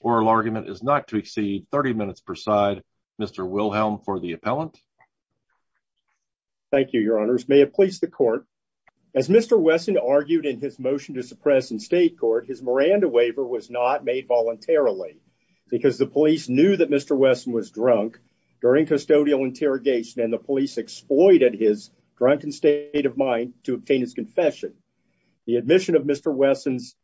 Oral argument is not to exceed 30 minutes per side. Mr. Wilhelm for the appellant. Thank you, your honors. May it please the court. As Mr. Wesson argued in his motion to suppress in state court, his Miranda waiver was not made voluntarily because the police knew that Mr. Wesson was drunk during custodial interrogation and the police exploited his drunken state of mind to obtain his confession. The admission of Mr. Wesson's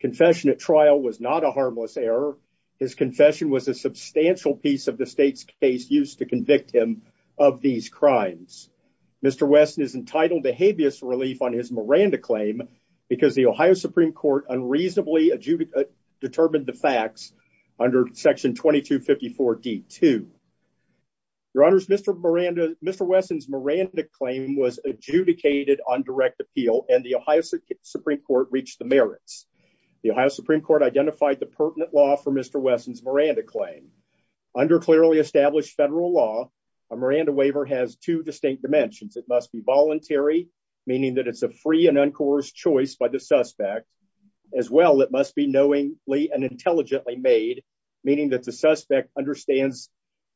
confession at trial was not a harmless error. His confession was a substantial piece of the state's case used to convict him of these crimes. Mr. Wesson is entitled to habeas relief on his Miranda claim because the Ohio Supreme Court unreasonably determined the facts under section 2254 D2. Your honors, Mr. Miranda, Mr. Wesson's Miranda claim was adjudicated on direct appeal and the Ohio Supreme Court reached the merits. The Ohio Supreme Court identified the pertinent law for Mr. Wesson's Miranda claim. Under clearly established federal law, a Miranda waiver has two distinct dimensions. It must be voluntary, meaning that it's a free and uncoerced choice by the suspect. As well, it must be knowingly and intelligently made, meaning that the suspect understands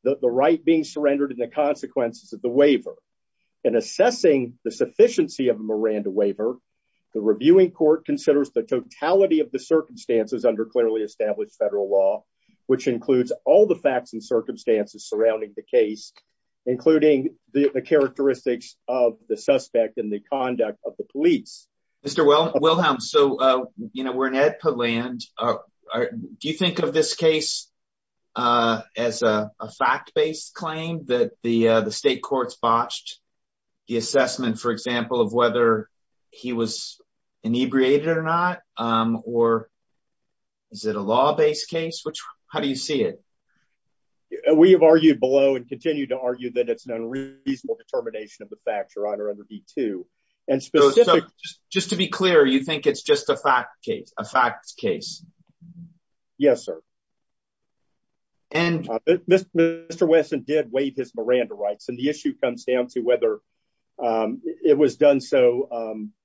the right being surrendered and the consequences of the waiver. In assessing the sufficiency of a Miranda waiver, the reviewing court considers the totality of the circumstances under clearly established federal law, which includes all the facts and circumstances surrounding the case, including the characteristics of the suspect and the conduct of the police. Mr. Wilhelm, we're in Edpa land. Do you think of this case as a fact-based claim that the state courts botched the assessment, for example, of whether he was inebriated or not, or is it a law-based case? How do you see it? We have argued below and continue to argue that it's an unreasonable determination of the fact, Your Honor, under D-2. Just to be clear, you think it's just a fact case? Yes, sir. Mr. Wesson did waive his Miranda rights, and the issue comes down to whether it was done so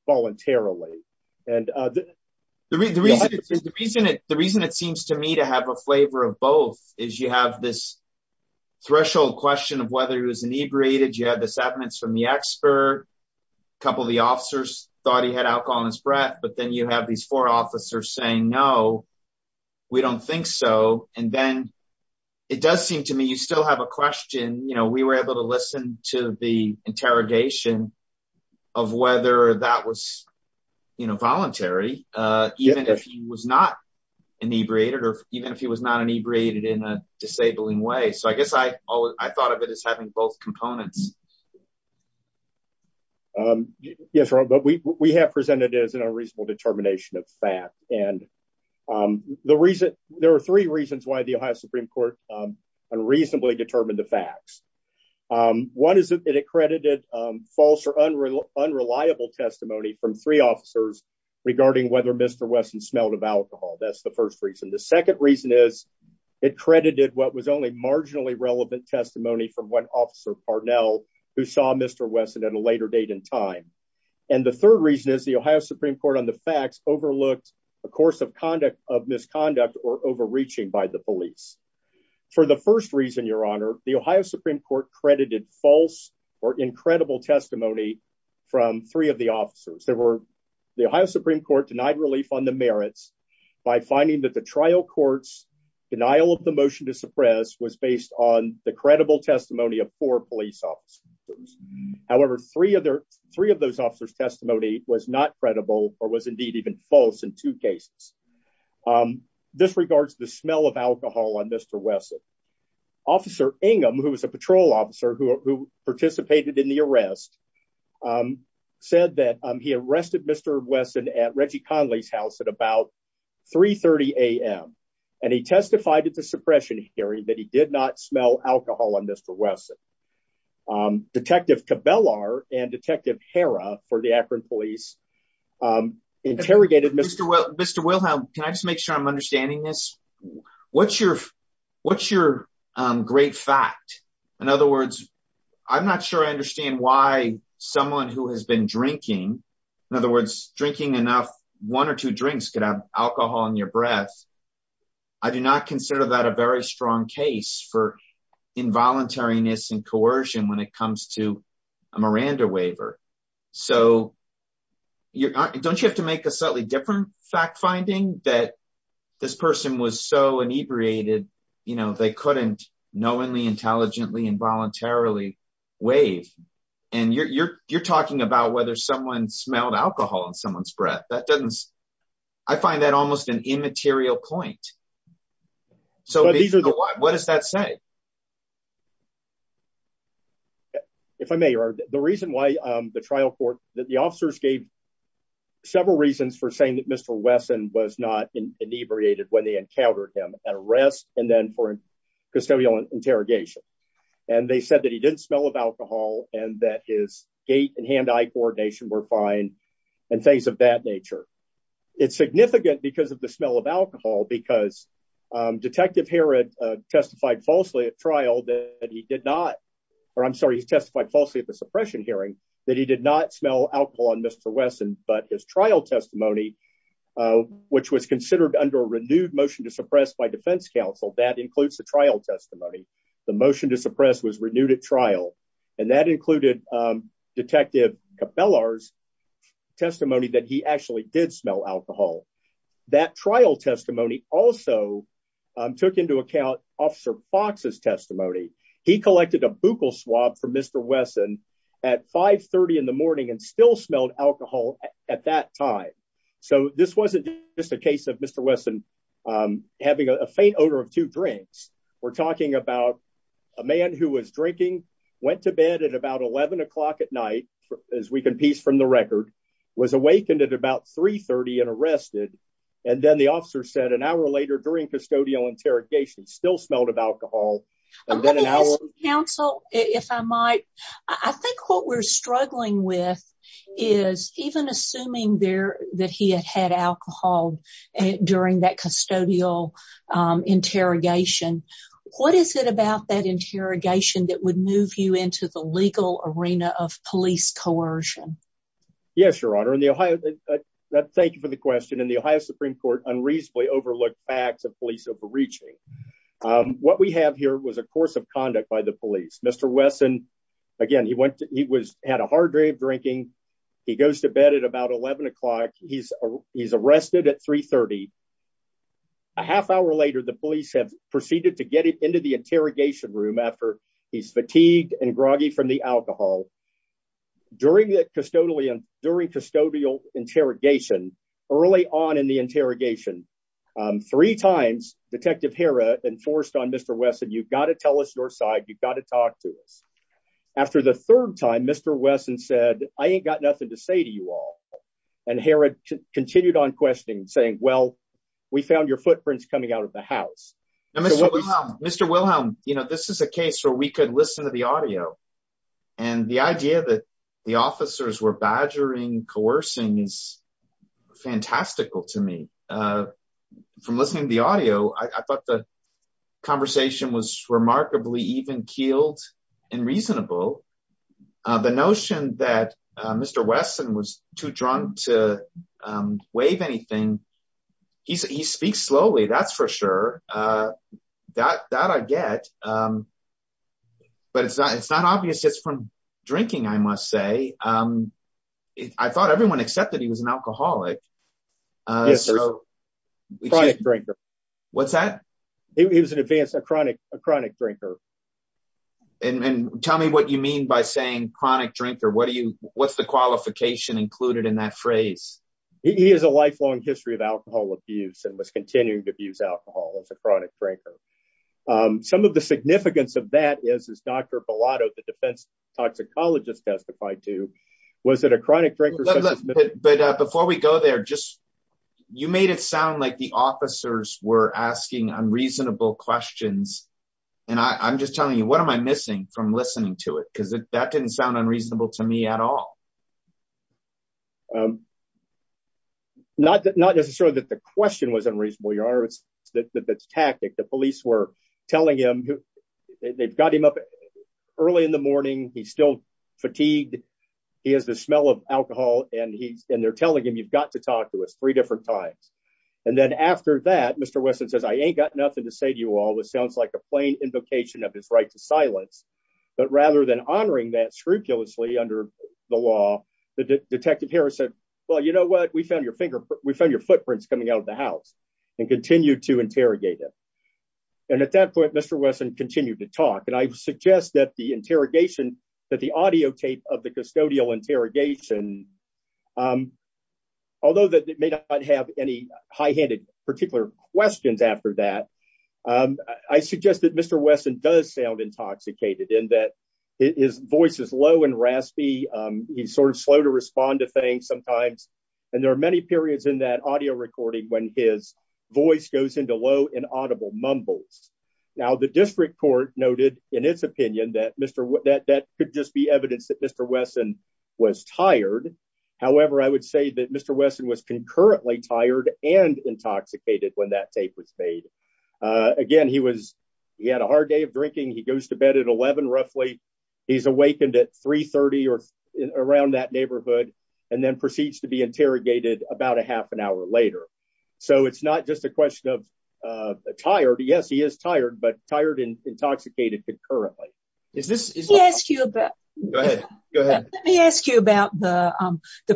voluntarily. The reason it seems to me to have a flavor of both is you have this threshold question of whether he was inebriated, you have this evidence from the expert, a couple of the officers thought he had alcohol in his breath, but then you have these four officers saying, no, we don't think so. It does seem to me you still have a question. We were able to listen to the interrogation of whether that was voluntary, even if he was not inebriated or even if he was not inebriated in a disabling way. I guess I thought of it as having both components. Yes, Your Honor, but we have presented it as an unreasonable determination of fact, and there are three reasons why the Ohio Supreme Court unreasonably determined the facts. One is it accredited false or unreliable testimony from three officers regarding whether Mr. Wesson smelled of alcohol. That's the first reason. The second reason is it credited what was only marginally relevant testimony from one officer, Parnell, who saw Mr. Wesson at a later date in time. And the third reason is the Ohio Supreme Court on the facts overlooked a course of misconduct or overreaching by the police. For the first reason, Your Honor, the Ohio Supreme Court credited false or incredible testimony from three of the officers. There were the Ohio Supreme Court denied relief on the merits by finding that the trial courts denial of the motion to suppress was based on the credible testimony of four police officers. However, three of their three of those officers testimony was not credible or was indeed even false in two cases. This regards the smell of alcohol on Mr. Wesson. Officer Ingham, who was a patrol officer who participated in the arrest, said that he arrested Mr. Wesson at Reggie Conley's house at about 3.30 a.m. And he testified at the suppression hearing that he did not smell alcohol on Mr. Wesson. Detective Cabellar and Detective Harrah for the Akron Police interrogated Mr. Wesson. Mr. Wilhelm, can I just make sure I'm understanding this? What's your great fact? In other words, I'm not sure I understand why someone who has been drinking, in other words, drinking enough one or two drinks could have alcohol in your breath. I do not consider that a very strong case for involuntariness and coercion when it comes to a Miranda waiver. So don't you have to make a slightly different fact finding that this person was so inebriated, you know, they couldn't knowingly, intelligently, involuntarily waive. And you're talking about whether someone smelled alcohol in someone's breath. That doesn't I find that almost an immaterial point. So what does that say? If I may, the reason why the trial court that the officers gave several reasons for saying that Mr. Wesson was not inebriated when they encountered him at arrest and then for custodial interrogation. And they said that he didn't smell of alcohol and that his gait and hand-eye coordination were fine and things of that nature. It's significant because of the smell of alcohol, because Detective Herod testified falsely at trial that he did not. Or I'm sorry, he testified falsely at the suppression hearing that he did not smell alcohol on Mr. Wesson, but his trial testimony, which was considered under a renewed motion to suppress by defense counsel. That includes the trial testimony. The motion to suppress was renewed at trial. And that included Detective Cabela's testimony that he actually did smell alcohol. That trial testimony also took into account Officer Fox's testimony. He collected a buccal swab for Mr. Wesson at five thirty in the morning and still smelled alcohol at that time. So this wasn't just a case of Mr. Wesson having a faint odor of two drinks. We're talking about a man who was drinking, went to bed at about eleven o'clock at night, as we can piece from the record, was awakened at about three thirty and arrested. And then the officer said an hour later during custodial interrogation, still smelled of alcohol. Counsel, if I might, I think what we're struggling with is even assuming there that he had had alcohol during that custodial interrogation. What is it about that interrogation that would move you into the legal arena of police coercion? Yes, Your Honor. And the Ohio. Thank you for the question. And the Ohio Supreme Court unreasonably overlooked facts of police overreaching. What we have here was a course of conduct by the police. Mr. Wesson. Again, he went to he was had a hard day of drinking. He goes to bed at about eleven o'clock. He's he's arrested at three thirty. A half hour later, the police have proceeded to get into the interrogation room after he's fatigued and groggy from the alcohol. During the custodian, during custodial interrogation, early on in the interrogation, three times, Detective Harrah enforced on Mr. Wesson, you've got to tell us your side. You've got to talk to us. After the third time, Mr. Wesson said, I ain't got nothing to say to you all. And Harrod continued on questioning, saying, well, we found your footprints coming out of the house. Mr. Wilhelm, you know, this is a case where we could listen to the audio. And the idea that the officers were badgering, coercing is fantastical to me from listening to the audio. I thought the conversation was remarkably even keeled and reasonable. The notion that Mr. Wesson was too drunk to waive anything. He said he speaks slowly. That's for sure. That I get. But it's not it's not obvious just from drinking, I must say. I thought everyone accepted he was an alcoholic. Yes, a chronic drinker. What's that? He was an advanced, a chronic, a chronic drinker. And tell me what you mean by saying chronic drinker. What do you what's the qualification included in that phrase? He has a lifelong history of alcohol abuse and was continuing to abuse alcohol as a chronic drinker. Some of the significance of that is, is Dr. Bellotto, the defense toxicologist testified to. Was it a chronic drinker? But before we go there, just you made it sound like the officers were asking unreasonable questions. And I'm just telling you, what am I missing from listening to it? Because that didn't sound unreasonable to me at all. Not that not necessarily that the question was unreasonable, your honor. It's that that's tactic. The police were telling him they've got him up early in the morning. He's still fatigued. He has the smell of alcohol. And he's and they're telling him you've got to talk to us three different times. And then after that, Mr. Wesson says, I ain't got nothing to say to you all. It sounds like a plain invocation of his right to silence. But rather than honoring that scrupulously under the law, the detective Harris said, well, you know what? We found your finger. We found your footprints coming out of the house and continue to interrogate him. And at that point, Mr. Wesson continued to talk. And I suggest that the interrogation, that the audio tape of the custodial interrogation. Although that may not have any high handed particular questions after that, I suggest that Mr. Wesson does sound intoxicated in that his voice is low and raspy. He's sort of slow to respond to things sometimes. And there are many periods in that audio recording when his voice goes into low and audible mumbles. Now, the district court noted in its opinion that Mr. That could just be evidence that Mr. Wesson was tired. However, I would say that Mr. Wesson was concurrently tired and intoxicated when that tape was made. Again, he was he had a hard day of drinking. He goes to bed at 11, roughly. He's awakened at 330 or around that neighborhood and then proceeds to be interrogated about a half an hour later. So it's not just a question of tired. Yes, he is tired, but tired and intoxicated concurrently. Is this. Yes. Go ahead. Go ahead. Let me ask you about the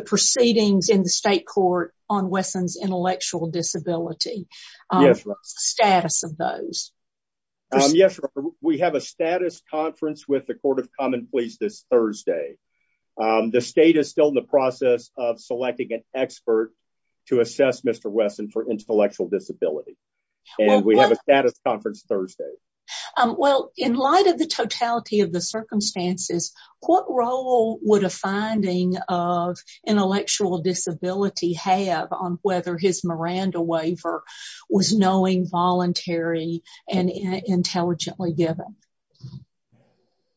proceedings in the state court on Wesson's intellectual disability. Yes. Status of those. Yes. We have a status conference with the Court of Common Pleas this Thursday. The state is still in the process of selecting an expert to assess Mr. Wesson for intellectual disability. And we have a status conference Thursday. Well, in light of the totality of the circumstances, what role would a finding of intellectual disability have on whether his Miranda waiver was knowing voluntary and intelligently given?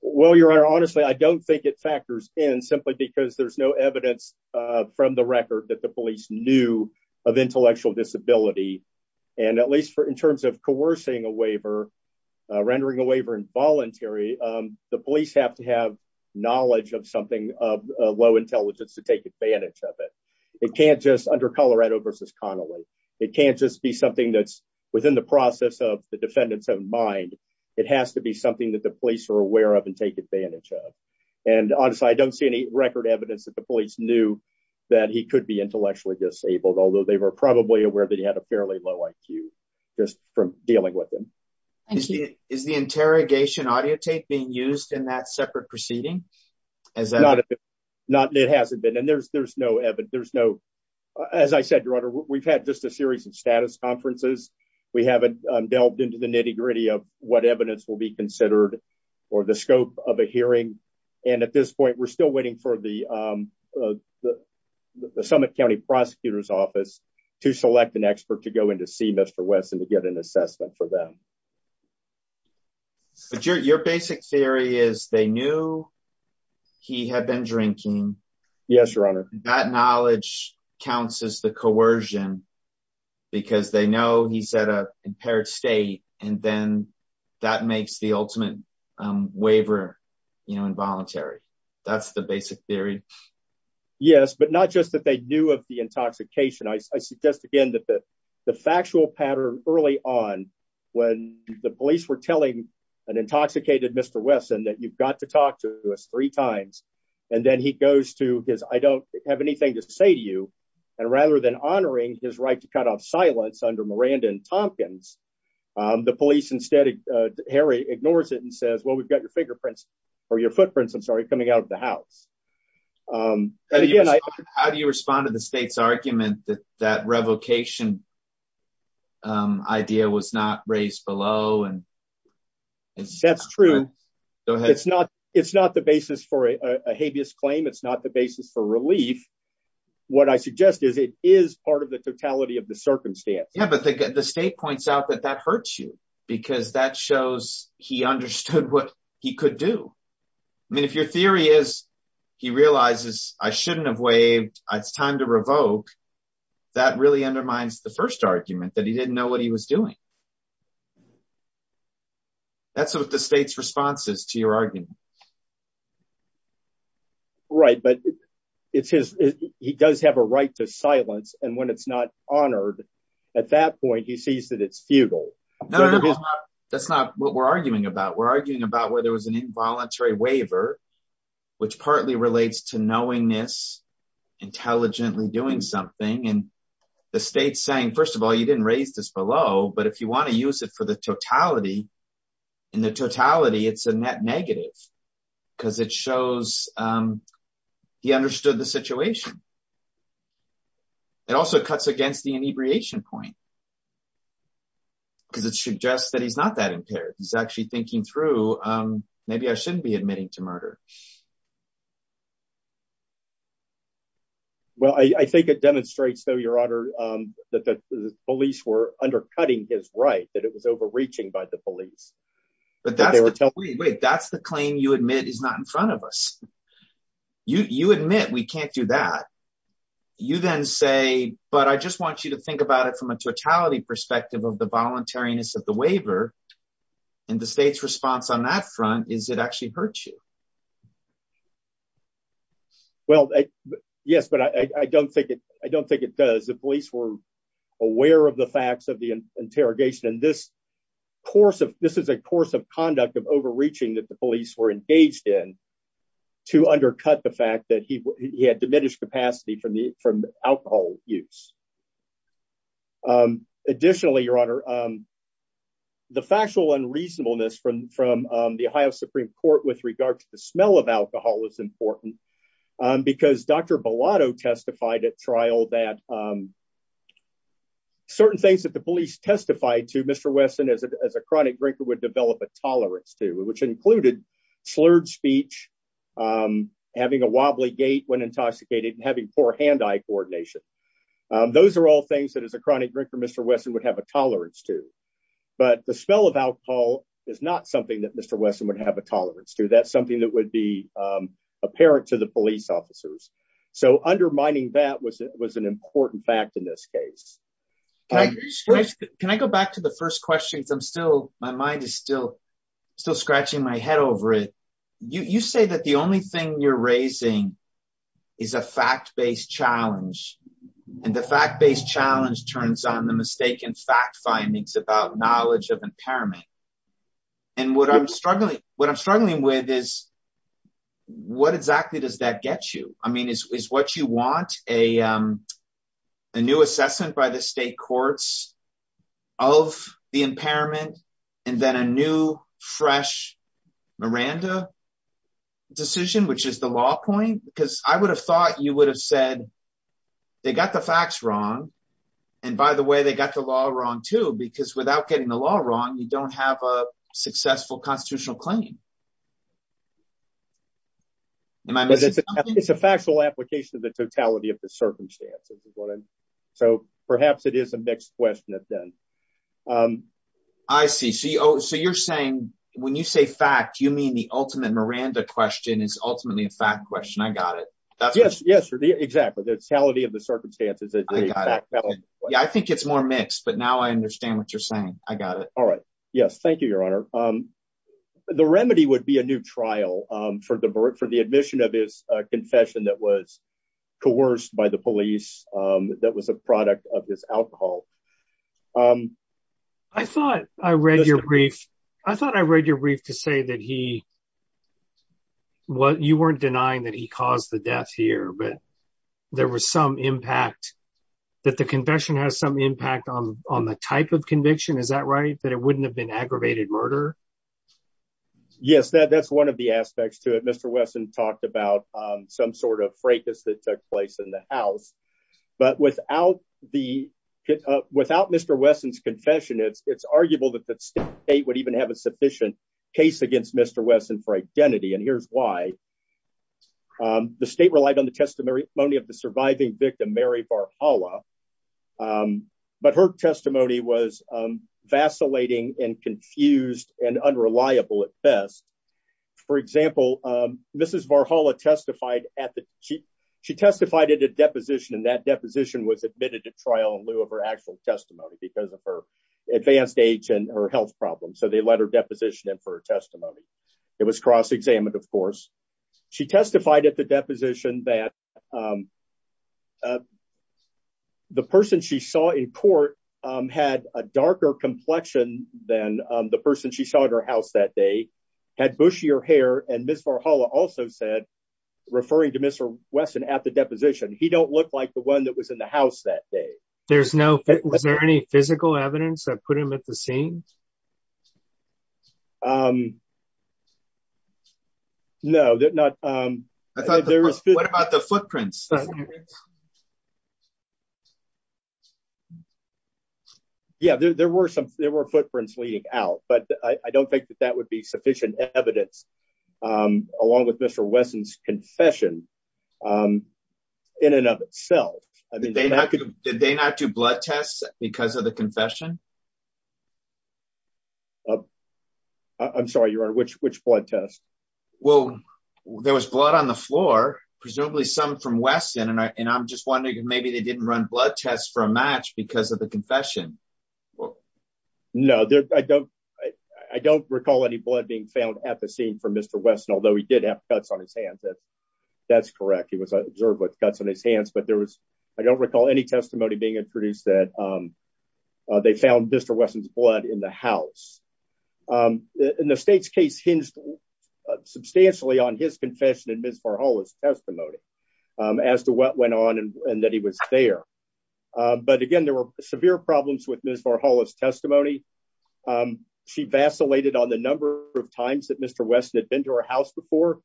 Well, your honor, honestly, I don't think it factors in simply because there's no evidence from the record that the police knew of intellectual disability. And at least for in terms of coercing a waiver, rendering a waiver involuntary, the police have to have knowledge of something of low intelligence to take advantage of it. It can't just under Colorado versus Connolly. It can't just be something that's within the process of the defendant's own mind. It has to be something that the police are aware of and take advantage of. And honestly, I don't see any record evidence that the police knew that he could be intellectually disabled, although they were probably aware that he had a fairly low IQ just from dealing with him. Is the interrogation audio tape being used in that separate proceeding? Not that it hasn't been. And there's there's no evidence. There's no. As I said, your honor, we've had just a series of status conferences. We haven't delved into the nitty gritty of what evidence will be considered or the scope of a hearing. And at this point, we're still waiting for the summit county prosecutor's office to select an expert to go in to see Mr. Wesson to get an assessment for them. Your basic theory is they knew he had been drinking. Yes, your honor. That knowledge counts as the coercion because they know he said a impaired state. And then that makes the ultimate waiver involuntary. That's the basic theory. Yes, but not just that they knew of the intoxication. I suggest, again, that the factual pattern early on when the police were telling an intoxicated Mr. Wesson that you've got to talk to us three times and then he goes to his I don't have anything to say to you. And rather than honoring his right to cut off silence under Miranda and Tompkins, the police instead. Harry ignores it and says, well, we've got your fingerprints or your footprints. I'm sorry. Coming out of the house. How do you respond to the state's argument that that revocation? Idea was not raised below and. That's true. It's not it's not the basis for a habeas claim. It's not the basis for relief. What I suggest is it is part of the totality of the circumstance. Yeah, but the state points out that that hurts you because that shows he understood what he could do. I mean, if your theory is he realizes I shouldn't have waived. It's time to revoke. That really undermines the first argument that he didn't know what he was doing. That's what the state's responses to your argument. Right. But it's his he does have a right to silence. And when it's not honored at that point, he sees that it's futile. That's not what we're arguing about. We're arguing about where there was an involuntary waiver, which partly relates to knowing this intelligently doing something. And the state's saying, first of all, you didn't raise this below. But if you want to use it for the totality and the totality, it's a net negative because it shows he understood the situation. It also cuts against the inebriation point. Because it suggests that he's not that impaired, he's actually thinking through maybe I shouldn't be admitting to murder. Well, I think it demonstrates, though, your honor, that the police were undercutting his right, that it was overreaching by the police. But that's the claim you admit is not in front of us. You admit we can't do that. You then say, but I just want you to think about it from a totality perspective of the voluntariness of the waiver. And the state's response on that front is it actually hurts you. Well, yes, but I don't think it I don't think it does. The police were aware of the facts of the interrogation in this course of this is a course of conduct of overreaching that the police were engaged in to undercut the fact that he had diminished capacity for me from alcohol use. Additionally, your honor. The factual unreasonableness from from the Ohio Supreme Court with regard to the smell of alcohol is important because Dr. Bellato testified at trial that. Certain things that the police testified to Mr. Wesson as a chronic drinker would develop a tolerance to which included slurred speech, having a wobbly gait when intoxicated and having poor hand eye coordination. Those are all things that as a chronic drinker, Mr. Wesson would have a tolerance to. But the smell of alcohol is not something that Mr. Wesson would have a tolerance to. That's something that would be apparent to the police officers. So undermining that was it was an important fact in this case. Can I go back to the first question? I'm still my mind is still still scratching my head over it. You say that the only thing you're raising is a fact based challenge and the fact based challenge turns on the mistaken fact findings about knowledge of impairment. And what I'm struggling what I'm struggling with is what exactly does that get you? I mean, is what you want a new assessment by the state courts of the impairment and then a new, fresh Miranda decision, which is the law point? Because I would have thought you would have said they got the facts wrong. And by the way, they got the law wrong, too, because without getting the law wrong, you don't have a successful constitutional claim. And it's a factual application of the totality of the circumstances is what I'm. So perhaps it is a mixed question of them. I see. So you're saying when you say fact, you mean the ultimate Miranda question is ultimately a fact question. I got it. Yes. Yes. Exactly. The totality of the circumstances that I think it's more mixed. But now I understand what you're saying. I got it. All right. Yes. Thank you, Your Honor. The remedy would be a new trial for the admission of his confession that was coerced by the police. That was a product of his alcohol. I thought I read your brief. I thought I read your brief to say that he what you weren't denying that he caused the death here. But there was some impact that the confession has some impact on the type of conviction. Is that right? That it wouldn't have been aggravated murder? Yes. That's one of the aspects to it. Mr. Wesson talked about some sort of fracas that took place in the house. But without the without Mr. Wesson's confession, it's arguable that the state would even have a sufficient case against Mr. Wesson for identity. And here's why. The state relied on the testimony of the surviving victim, Mary Barala. But her testimony was vacillating and confused and unreliable at best. For example, Mrs. Barhala testified at the. She testified at a deposition and that deposition was admitted to trial in lieu of her actual testimony because of her advanced age and her health problems. So they let her deposition in for a testimony. It was cross examined. Of course, she testified at the deposition that. The person she saw in court had a darker complexion than the person she saw at her house that day had bushier hair. And Ms. Barhala also said, referring to Mr. Wesson at the deposition, he don't look like the one that was in the house that day. There's no. Was there any physical evidence that put him at the scene? No, not. I thought there was. What about the footprints? Yeah, there were some. There were footprints leading out, but I don't think that that would be sufficient evidence along with Mr. Wesson's confession in and of itself. I mean, they could. Did they not do blood tests because of the confession? I'm sorry, your honor, which which blood test? Well, there was blood on the floor, presumably some from Weston. And I'm just wondering if maybe they didn't run blood tests for a match because of the confession. No, I don't. I don't recall any blood being found at the scene for Mr. Wesson, although he did have cuts on his hands. That's correct. It was observed with cuts on his hands, but there was I don't recall any testimony being introduced that they found Mr. Wesson's blood in the house. And the state's case hinged substantially on his confession and Ms. Farhola's testimony as to what went on and that he was there. But again, there were severe problems with Ms. Farhola's testimony. She vacillated on the number of times that Mr. Wesson had been to her house before.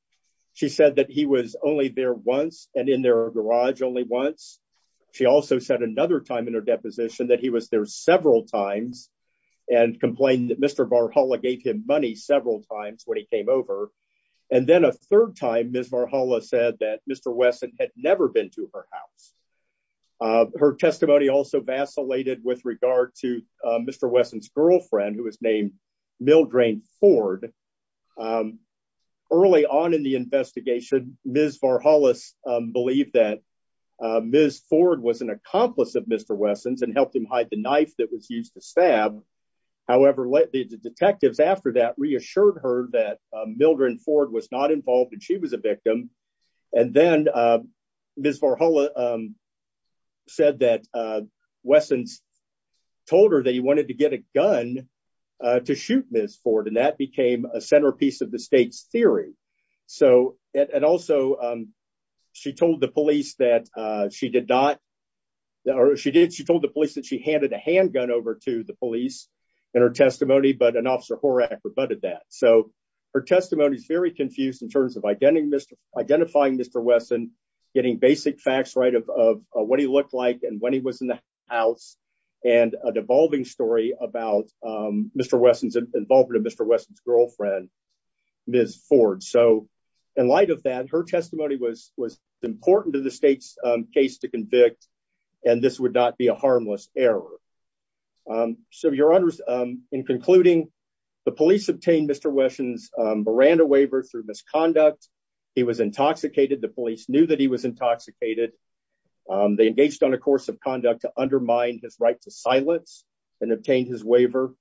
She said that he was only there once and in their garage only once. She also said another time in her deposition that he was there several times and complained that Mr. Farhola gave him money several times when he came over. And then a third time, Ms. Farhola said that Mr. Wesson had never been to her house. Her testimony also vacillated with regard to Mr. Wesson's girlfriend, who was named Mildred Ford. Early on in the investigation, Ms. Farhola believed that Ms. Ford was an accomplice of Mr. Wesson's and helped him hide the knife that was used to stab. However, the detectives after that reassured her that Mildred Ford was not involved and she was a victim. And then Ms. Farhola said that Wesson's told her that he wanted to get a gun to shoot Ms. Ford and that became a centerpiece of the state's theory. And also, she told the police that she handed a handgun over to the police in her testimony, but an Officer Horak rebutted that. So her testimony is very confused in terms of identifying Mr. Wesson, getting basic facts right of what he looked like and when he was in the house, and an evolving story about Mr. Wesson's girlfriend, Ms. Ford. So in light of that, her testimony was important to the state's case to convict, and this would not be a harmless error. So your honors, in concluding, the police obtained Mr. Wesson's Miranda waiver through misconduct. He was intoxicated. The police knew that he was intoxicated. They engaged on a course of conduct to undermine his right to silence and obtained his waiver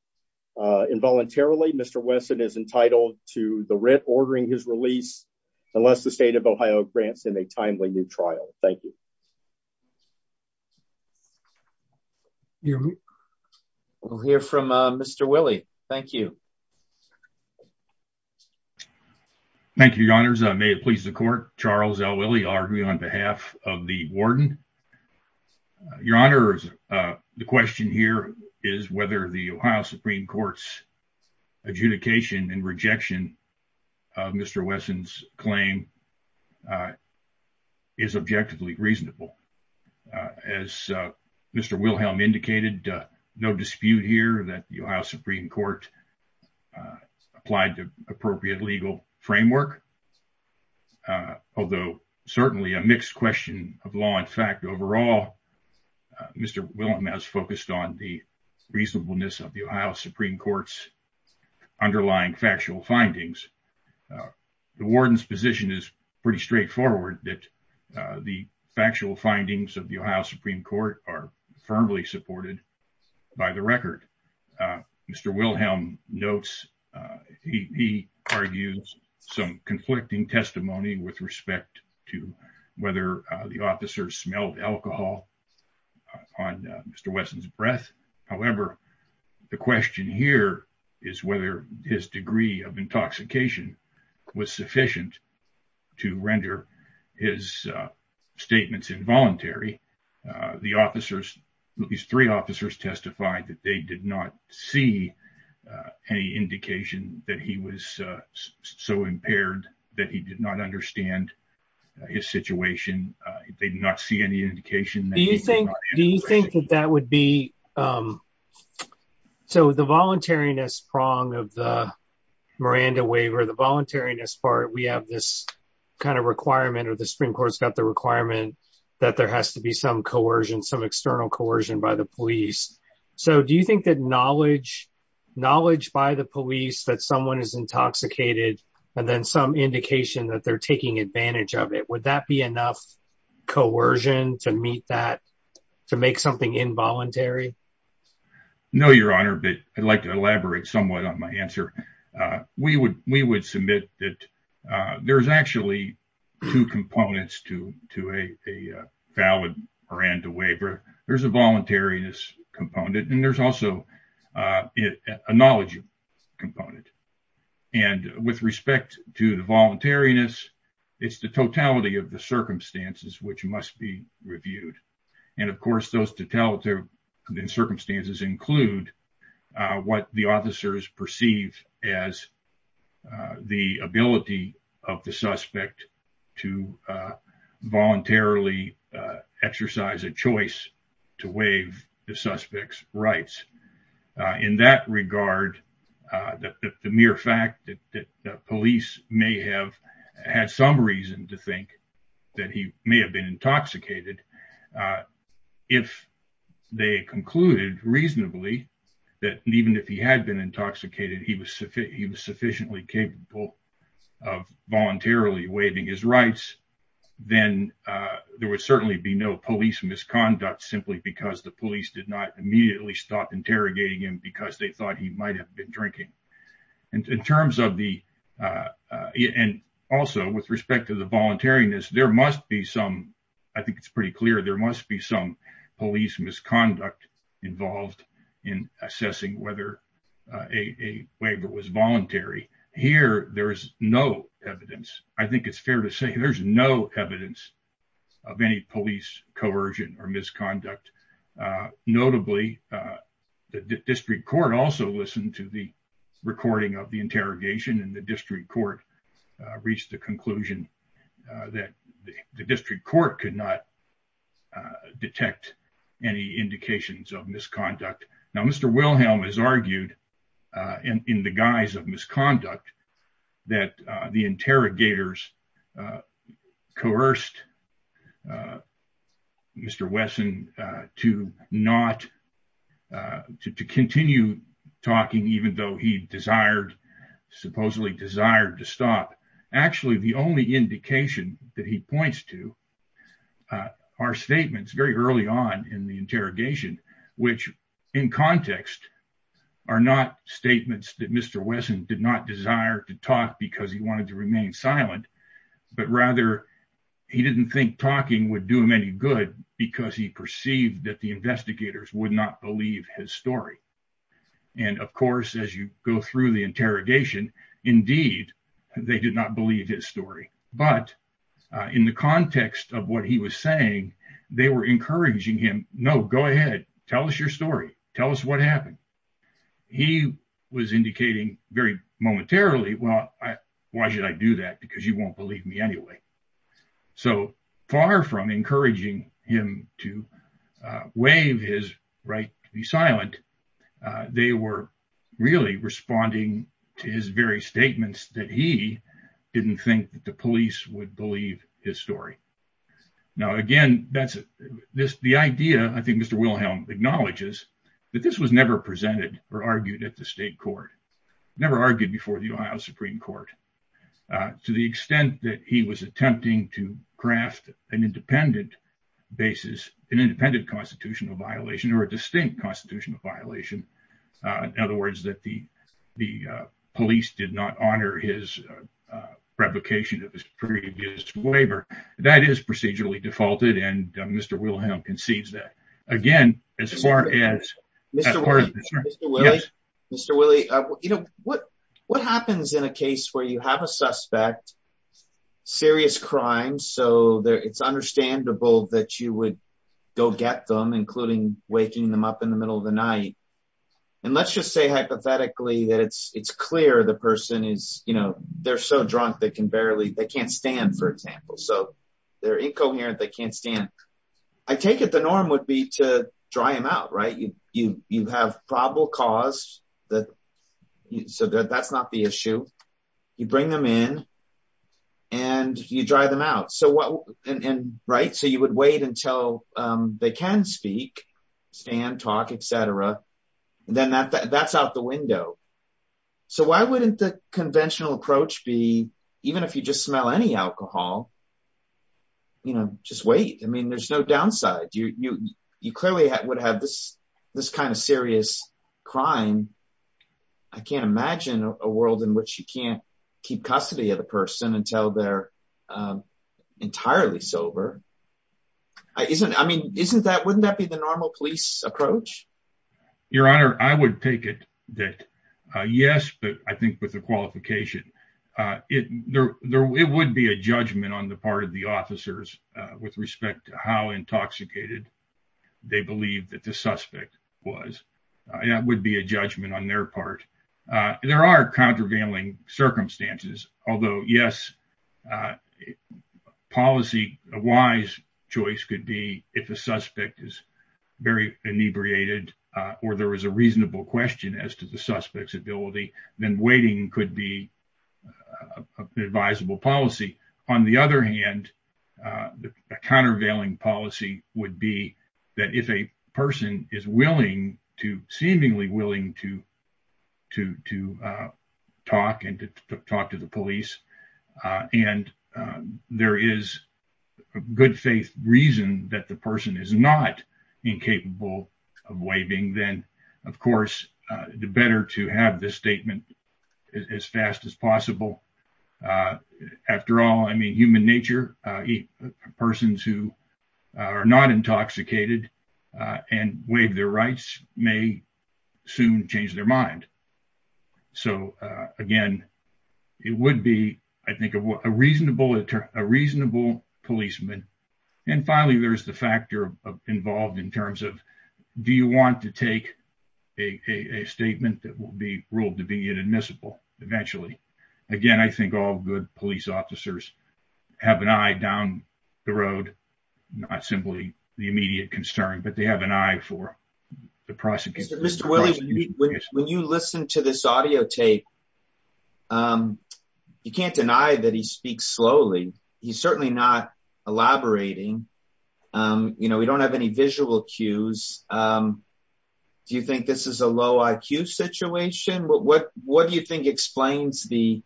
involuntarily. Mr. Wesson is entitled to the writ ordering his release unless the state of Ohio grants in a timely new trial. Thank you. We'll hear from Mr. Willie. Thank you. Thank you, your honors. May it please the court. Charles L. Willie arguing on behalf of the warden. Your honors. The question here is whether the Ohio Supreme Court's adjudication and rejection of Mr. Wesson's claim is objectively reasonable. As Mr. Wilhelm indicated, no dispute here that the Ohio Supreme Court applied to appropriate legal framework. Although certainly a mixed question of law and fact, overall, Mr. Wilhelm has focused on the reasonableness of the Ohio Supreme Court's underlying factual findings. The warden's position is pretty straightforward that the factual findings of the Ohio Supreme Court are firmly supported by the record. Mr. Wilhelm notes. He argues some conflicting testimony with respect to whether the officers smelled alcohol on Mr. Wesson's breath. However, the question here is whether his degree of intoxication was sufficient to render his statements involuntary. The officers, these three officers testified that they did not see any indication that he was so impaired that he did not understand his situation. They did not see any indication. Do you think that that would be so the voluntariness prong of the Miranda waiver, the voluntariness part. We have this kind of requirement or the Supreme Court's got the requirement that there has to be some coercion, some external coercion by the police. So do you think that knowledge, knowledge by the police that someone is intoxicated and then some indication that they're taking advantage of it? Would that be enough coercion to meet that to make something involuntary? No, Your Honor. But I'd like to elaborate somewhat on my answer. We would we would submit that there is actually two components to to a valid Miranda waiver. There's a voluntariness component and there's also a knowledge component. And with respect to the voluntariness, it's the totality of the circumstances which must be reviewed. And, of course, those totality in circumstances include what the officers perceive as the ability of the suspect to voluntarily exercise a choice to waive the suspect's rights. In that regard, the mere fact that the police may have had some reason to think that he may have been intoxicated. If they concluded reasonably that even if he had been intoxicated, he was he was sufficiently capable of voluntarily waiving his rights. Then there would certainly be no police misconduct simply because the police did not immediately stop interrogating him because they thought he might have been drinking. And in terms of the and also with respect to the voluntariness, there must be some. I think it's pretty clear there must be some police misconduct involved in assessing whether a waiver was voluntary. Here, there is no evidence. I think it's fair to say there's no evidence of any police coercion or misconduct. Notably, the district court also listened to the recording of the interrogation and the district court reached the conclusion that the district court could not detect any indications of misconduct. Now, Mr. Wilhelm has argued in the guise of misconduct that the interrogators coerced Mr. Wesson to not to continue talking, even though he desired supposedly desired to stop. Actually, the only indication that he points to our statements very early on in the interrogation, which in context are not statements that Mr. Wesson did not desire to talk because he wanted to remain silent. But rather, he didn't think talking would do him any good because he perceived that the investigators would not believe his story. And of course, as you go through the interrogation, indeed, they did not believe his story. But in the context of what he was saying, they were encouraging him. No, go ahead. Tell us your story. Tell us what happened. He was indicating very momentarily. Well, why should I do that? Because you won't believe me anyway. So far from encouraging him to waive his right to be silent, they were really responding to his very statements that he didn't think the police would believe his story. Now, again, that's the idea. I think Mr. Wilhelm acknowledges that this was never presented or argued at the state court, never argued before the Ohio Supreme Court, to the extent that he was attempting to craft an independent basis, an independent constitutional violation or a distinct constitutional violation. In other words, that the police did not honor his revocation of his previous waiver. That is procedurally defaulted, and Mr. Wilhelm concedes that. Mr. Willie, what happens in a case where you have a suspect, serious crime, so it's understandable that you would go get them, including waking them up in the middle of the night? And let's just say hypothetically that it's clear the person is, you know, they're so drunk, they can barely, they can't stand, for example. So they're incoherent, they can't stand. I take it the norm would be to dry them out, right? You have probable cause, so that's not the issue. You bring them in, and you dry them out. So you would wait until they can speak, stand, talk, etc. Then that's out the window. So why wouldn't the conventional approach be, even if you just smell any alcohol, you know, just wait. I mean, there's no downside. You clearly would have this kind of serious crime. I can't imagine a world in which you can't keep custody of the person until they're entirely sober. I mean, wouldn't that be the normal police approach? Your Honor, I would take it that yes, but I think with the qualification, it would be a judgment on the part of the officers with respect to how intoxicated they believe that the suspect was. That would be a judgment on their part. There are countervailing circumstances. Although, yes, a wise choice could be if a suspect is very inebriated or there is a reasonable question as to the suspect's ability, then waiting could be an advisable policy. On the other hand, a countervailing policy would be that if a person is willing to, seemingly willing to talk and to talk to the police, and there is a good faith reason that the person is not incapable of waving, then, of course, the better to have this statement as fast as possible. First of all, I mean, human nature. Persons who are not intoxicated and waive their rights may soon change their mind. So, again, it would be, I think, a reasonable policeman. And finally, there's the factor involved in terms of do you want to take a statement that will be ruled to be inadmissible eventually. Again, I think all good police officers have an eye down the road, not simply the immediate concern, but they have an eye for the prosecution. Mr. Willie, when you listen to this audio tape, you can't deny that he speaks slowly. He's certainly not elaborating. You know, we don't have any visual cues. Do you think this is a low IQ situation? What do you think explains the...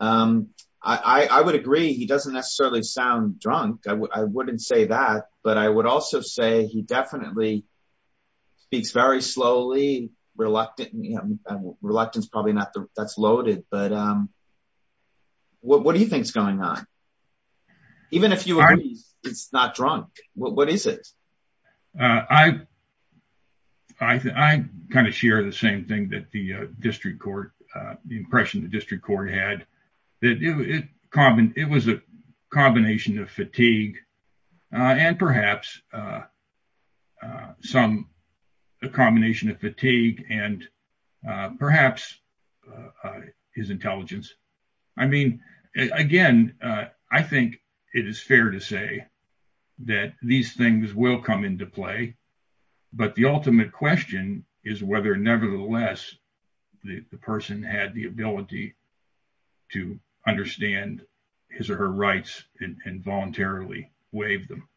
I would agree he doesn't necessarily sound drunk. I wouldn't say that. But I would also say he definitely speaks very slowly, reluctant. Reluctance probably not that's loaded. But what do you think's going on? Even if you are not drunk, what is it? I kind of share the same thing that the district court, the impression the district court had that it was a combination of fatigue and perhaps some a combination of fatigue and perhaps his intelligence. I mean, again, I think it is fair to say that these things will come into play. But the ultimate question is whether, nevertheless, the person had the ability to understand his or her rights and voluntarily waive them.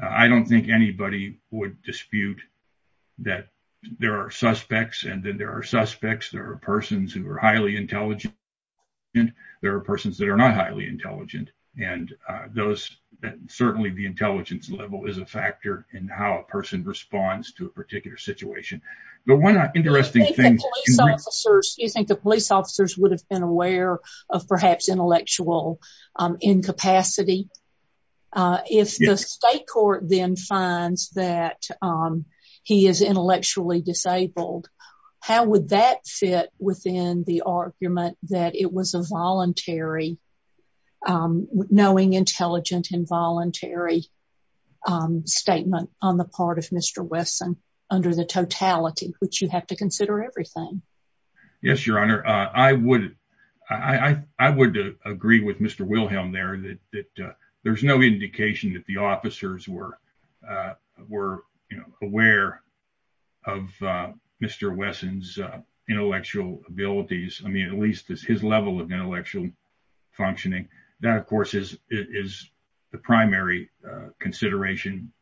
I don't think anybody would dispute that there are suspects and then there are suspects. There are persons who are highly intelligent and there are persons that are not highly intelligent. And those certainly the intelligence level is a factor in how a person responds to a particular situation. Do you think the police officers would have been aware of perhaps intellectual incapacity? If the state court then finds that he is intellectually disabled, how would that fit within the argument that it was a voluntary, knowing, intelligent, involuntary statement on the part of Mr. Wesson under the totality? Would you have to consider everything? Yes, Your Honor. I would agree with Mr. Wilhelm there that there's no indication that the officers were aware of Mr. Wesson's intellectual abilities. I mean, at least his level of intellectual functioning. That, of course, is the primary consideration.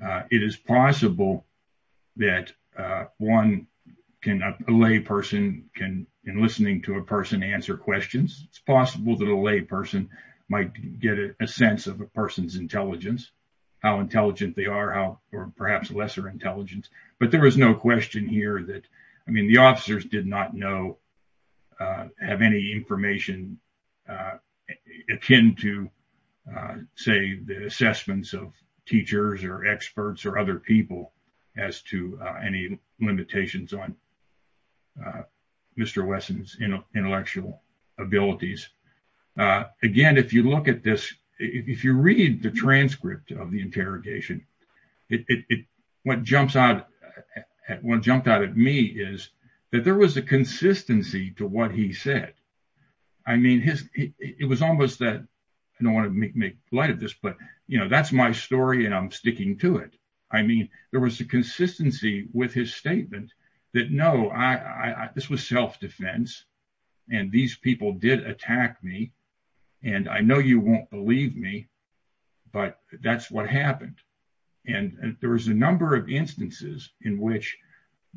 It is possible that a lay person can, in listening to a person, answer questions. It's possible that a lay person might get a sense of a person's intelligence, how intelligent they are, or perhaps lesser intelligence. But there was no question here that, I mean, the officers did not know, have any information akin to, say, the assessments of teachers or experts or other people as to any limitations on Mr. Wesson's intellectual abilities. Again, if you look at this, if you read the transcript of the interrogation, what jumps out at me is that there was a consistency to what he said. I mean, it was almost that, I don't want to make light of this, but, you know, that's my story and I'm sticking to it. I mean, there was a consistency with his statement that, no, this was self-defense, and these people did attack me, and I know you won't believe me, but that's what happened. And there was a number of instances in which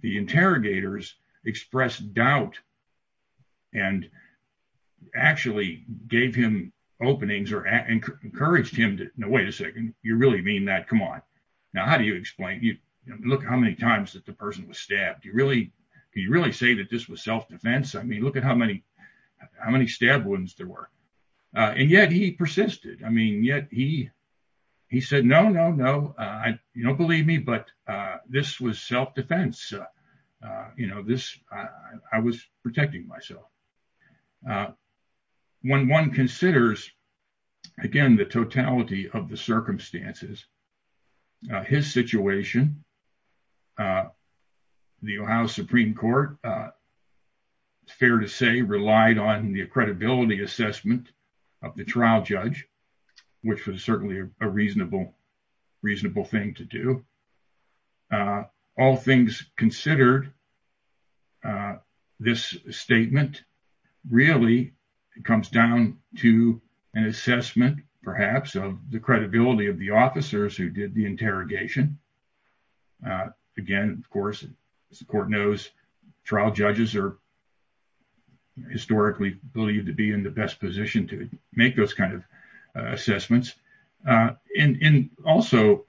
the interrogators expressed doubt and actually gave him openings or encouraged him to, no, wait a second, you really mean that? Come on. Now, how do you explain, look how many times that the person was stabbed. Do you really say that this was self-defense? I mean, look at how many stab wounds there were. And yet he persisted. I mean, yet he said, no, no, no, you don't believe me, but this was self-defense. You know, this, I was protecting myself. When one considers, again, the totality of the circumstances, his situation, the Ohio Supreme Court, it's fair to say, relied on the credibility assessment of the trial judge, which was certainly a reasonable thing to do. All things considered, this statement really comes down to an assessment, perhaps, of the credibility of the officers who did the interrogation. Again, of course, as the court knows, trial judges are historically believed to be in the best position to make those kind of assessments. And also,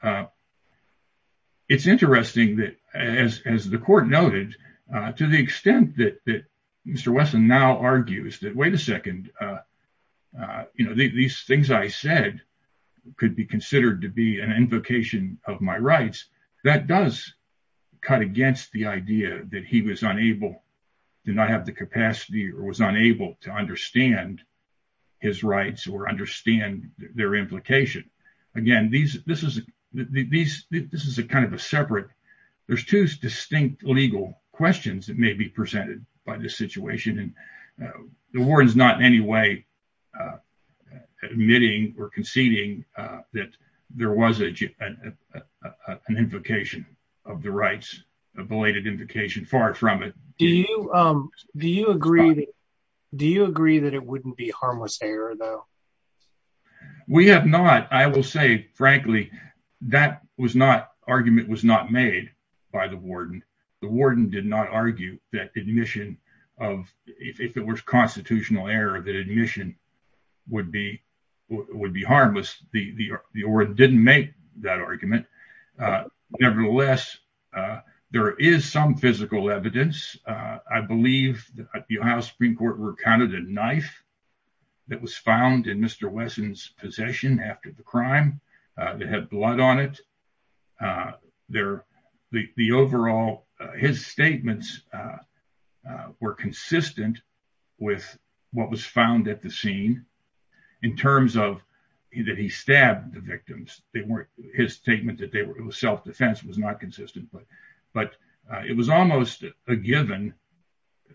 it's interesting that, as the court noted, to the extent that Mr. Wesson now argues that, wait a second, you know, these things I said could be considered to be an invocation of my rights. That does cut against the idea that he was unable, did not have the capacity or was unable to understand his rights or understand their implication. Again, this is a kind of a separate, there's two distinct legal questions that may be presented by this situation, and the warden's not in any way admitting or conceding that there was an invocation of the rights, a belated invocation, far from it. Do you agree that it wouldn't be harmless error, though? We have not, I will say frankly, that was not, argument was not made by the warden. The warden did not argue that admission of, if it was constitutional error, that admission would be harmless. The warden didn't make that argument. Nevertheless, there is some physical evidence. I believe the Ohio Supreme Court recounted a knife that was found in Mr. Wesson's possession after the crime that had blood on it. The overall, his statements were consistent with what was found at the scene in terms of that he stabbed the victims. His statement that it was self-defense was not consistent, but it was almost a given.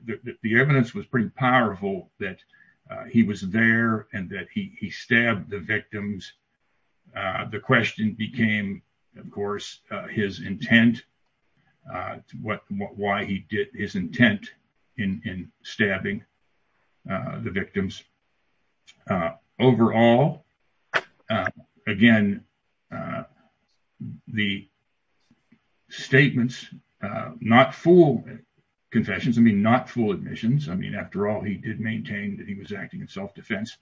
The evidence was pretty powerful that he was there and that he stabbed the victims. The question became, of course, his intent, why he did his intent in stabbing the victims. Overall, again, the statements, not full confessions, I mean, not full admissions. I mean, after all, he did maintain that he was acting in self-defense.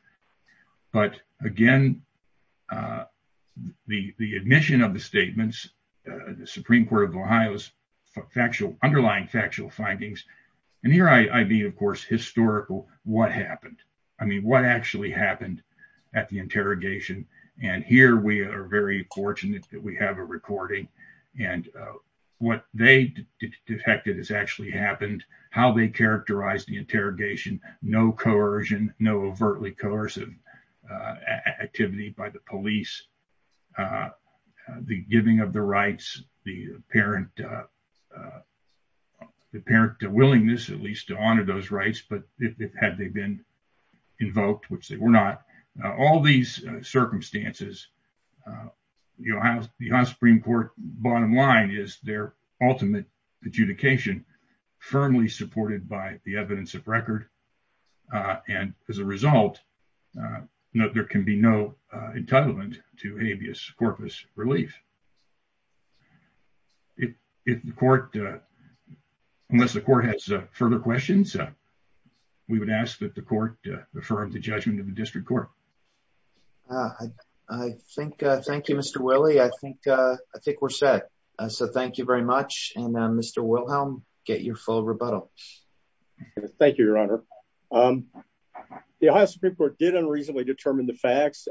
But again, the admission of the statements, the Supreme Court of Ohio's factual, underlying factual findings, and here I mean, of course, historical, what happened? I mean, what actually happened at the interrogation? And here we are very fortunate that we have a recording. And what they detected has actually happened, how they characterized the interrogation, no coercion, no overtly coercive activity by the police. The giving of the rights, the apparent willingness, at least to honor those rights, but had they been invoked, which they were not. All these circumstances, the Ohio Supreme Court bottom line is their ultimate adjudication firmly supported by the evidence of record. And as a result, there can be no entitlement to habeas corpus relief. If the court, unless the court has further questions, we would ask that the court affirm the judgment of the district court. I think, thank you, Mr. Willey. I think we're set. So thank you very much. And Mr. Wilhelm, get your full rebuttal. The Ohio Supreme Court did unreasonably determine the facts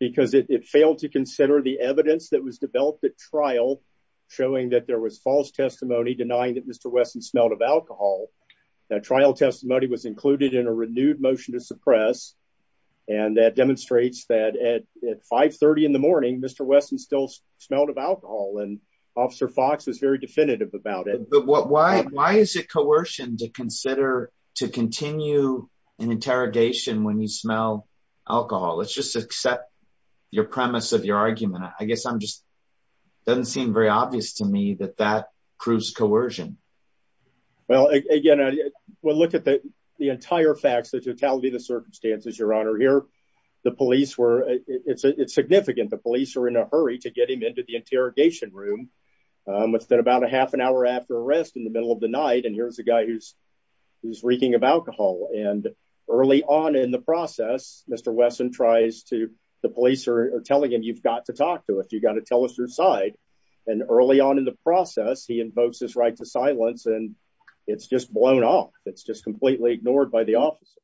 because it failed to consider the evidence that was developed at trial. Showing that there was false testimony denying that Mr. Wesson smelled of alcohol. That trial testimony was included in a renewed motion to suppress. And that demonstrates that at 530 in the morning, Mr. Wesson still smelled of alcohol and Officer Fox is very definitive about it. But why is it coercion to consider, to continue an interrogation when you smell alcohol? Let's just accept your premise of your argument. I guess I'm just, doesn't seem very obvious to me that that proves coercion. Well, again, we'll look at the entire facts, the totality of the circumstances, Your Honor. Here, the police were, it's significant, the police are in a hurry to get him into the interrogation room. It's been about a half an hour after arrest in the middle of the night, and here's a guy who's reeking of alcohol. And early on in the process, Mr. Wesson tries to, the police are telling him, you've got to talk to us, you've got to tell us your side. And early on in the process, he invokes his right to silence and it's just blown off. It's just completely ignored by the officers.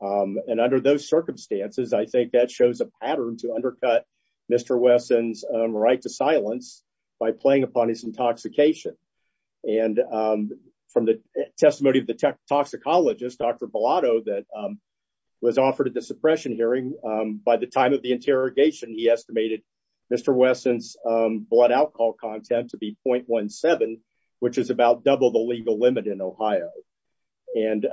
And under those circumstances, I think that shows a pattern to undercut Mr. Wesson's right to silence by playing upon his intoxication. And from the testimony of the toxicologist, Dr. Bellotto, that was offered at the suppression hearing, by the time of the interrogation, he estimated Mr. Wesson's blood alcohol content to be 0.17, which is about double the legal limit in Ohio. And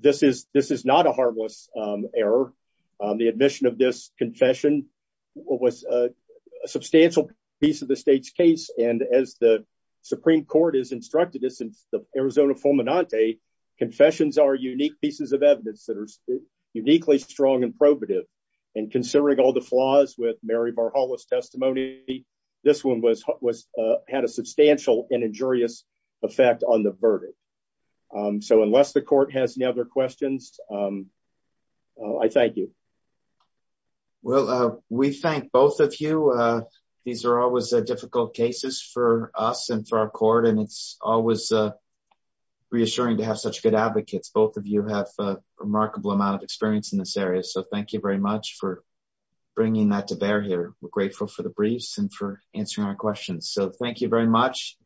this is not a harmless error. The admission of this confession was a substantial piece of the state's case. And as the Supreme Court has instructed us in the Arizona Fulminante, confessions are unique pieces of evidence that are uniquely strong and probative. And considering all the flaws with Mary Barhollow's testimony, this one had a substantial and injurious effect on the verdict. So unless the court has any other questions, I thank you. Well, we thank both of you. These are always difficult cases for us and for our court, and it's always reassuring to have such good advocates. Both of you have a remarkable amount of experience in this area, so thank you very much for bringing that to bear here. We're grateful for the briefs and for answering our questions. So thank you very much.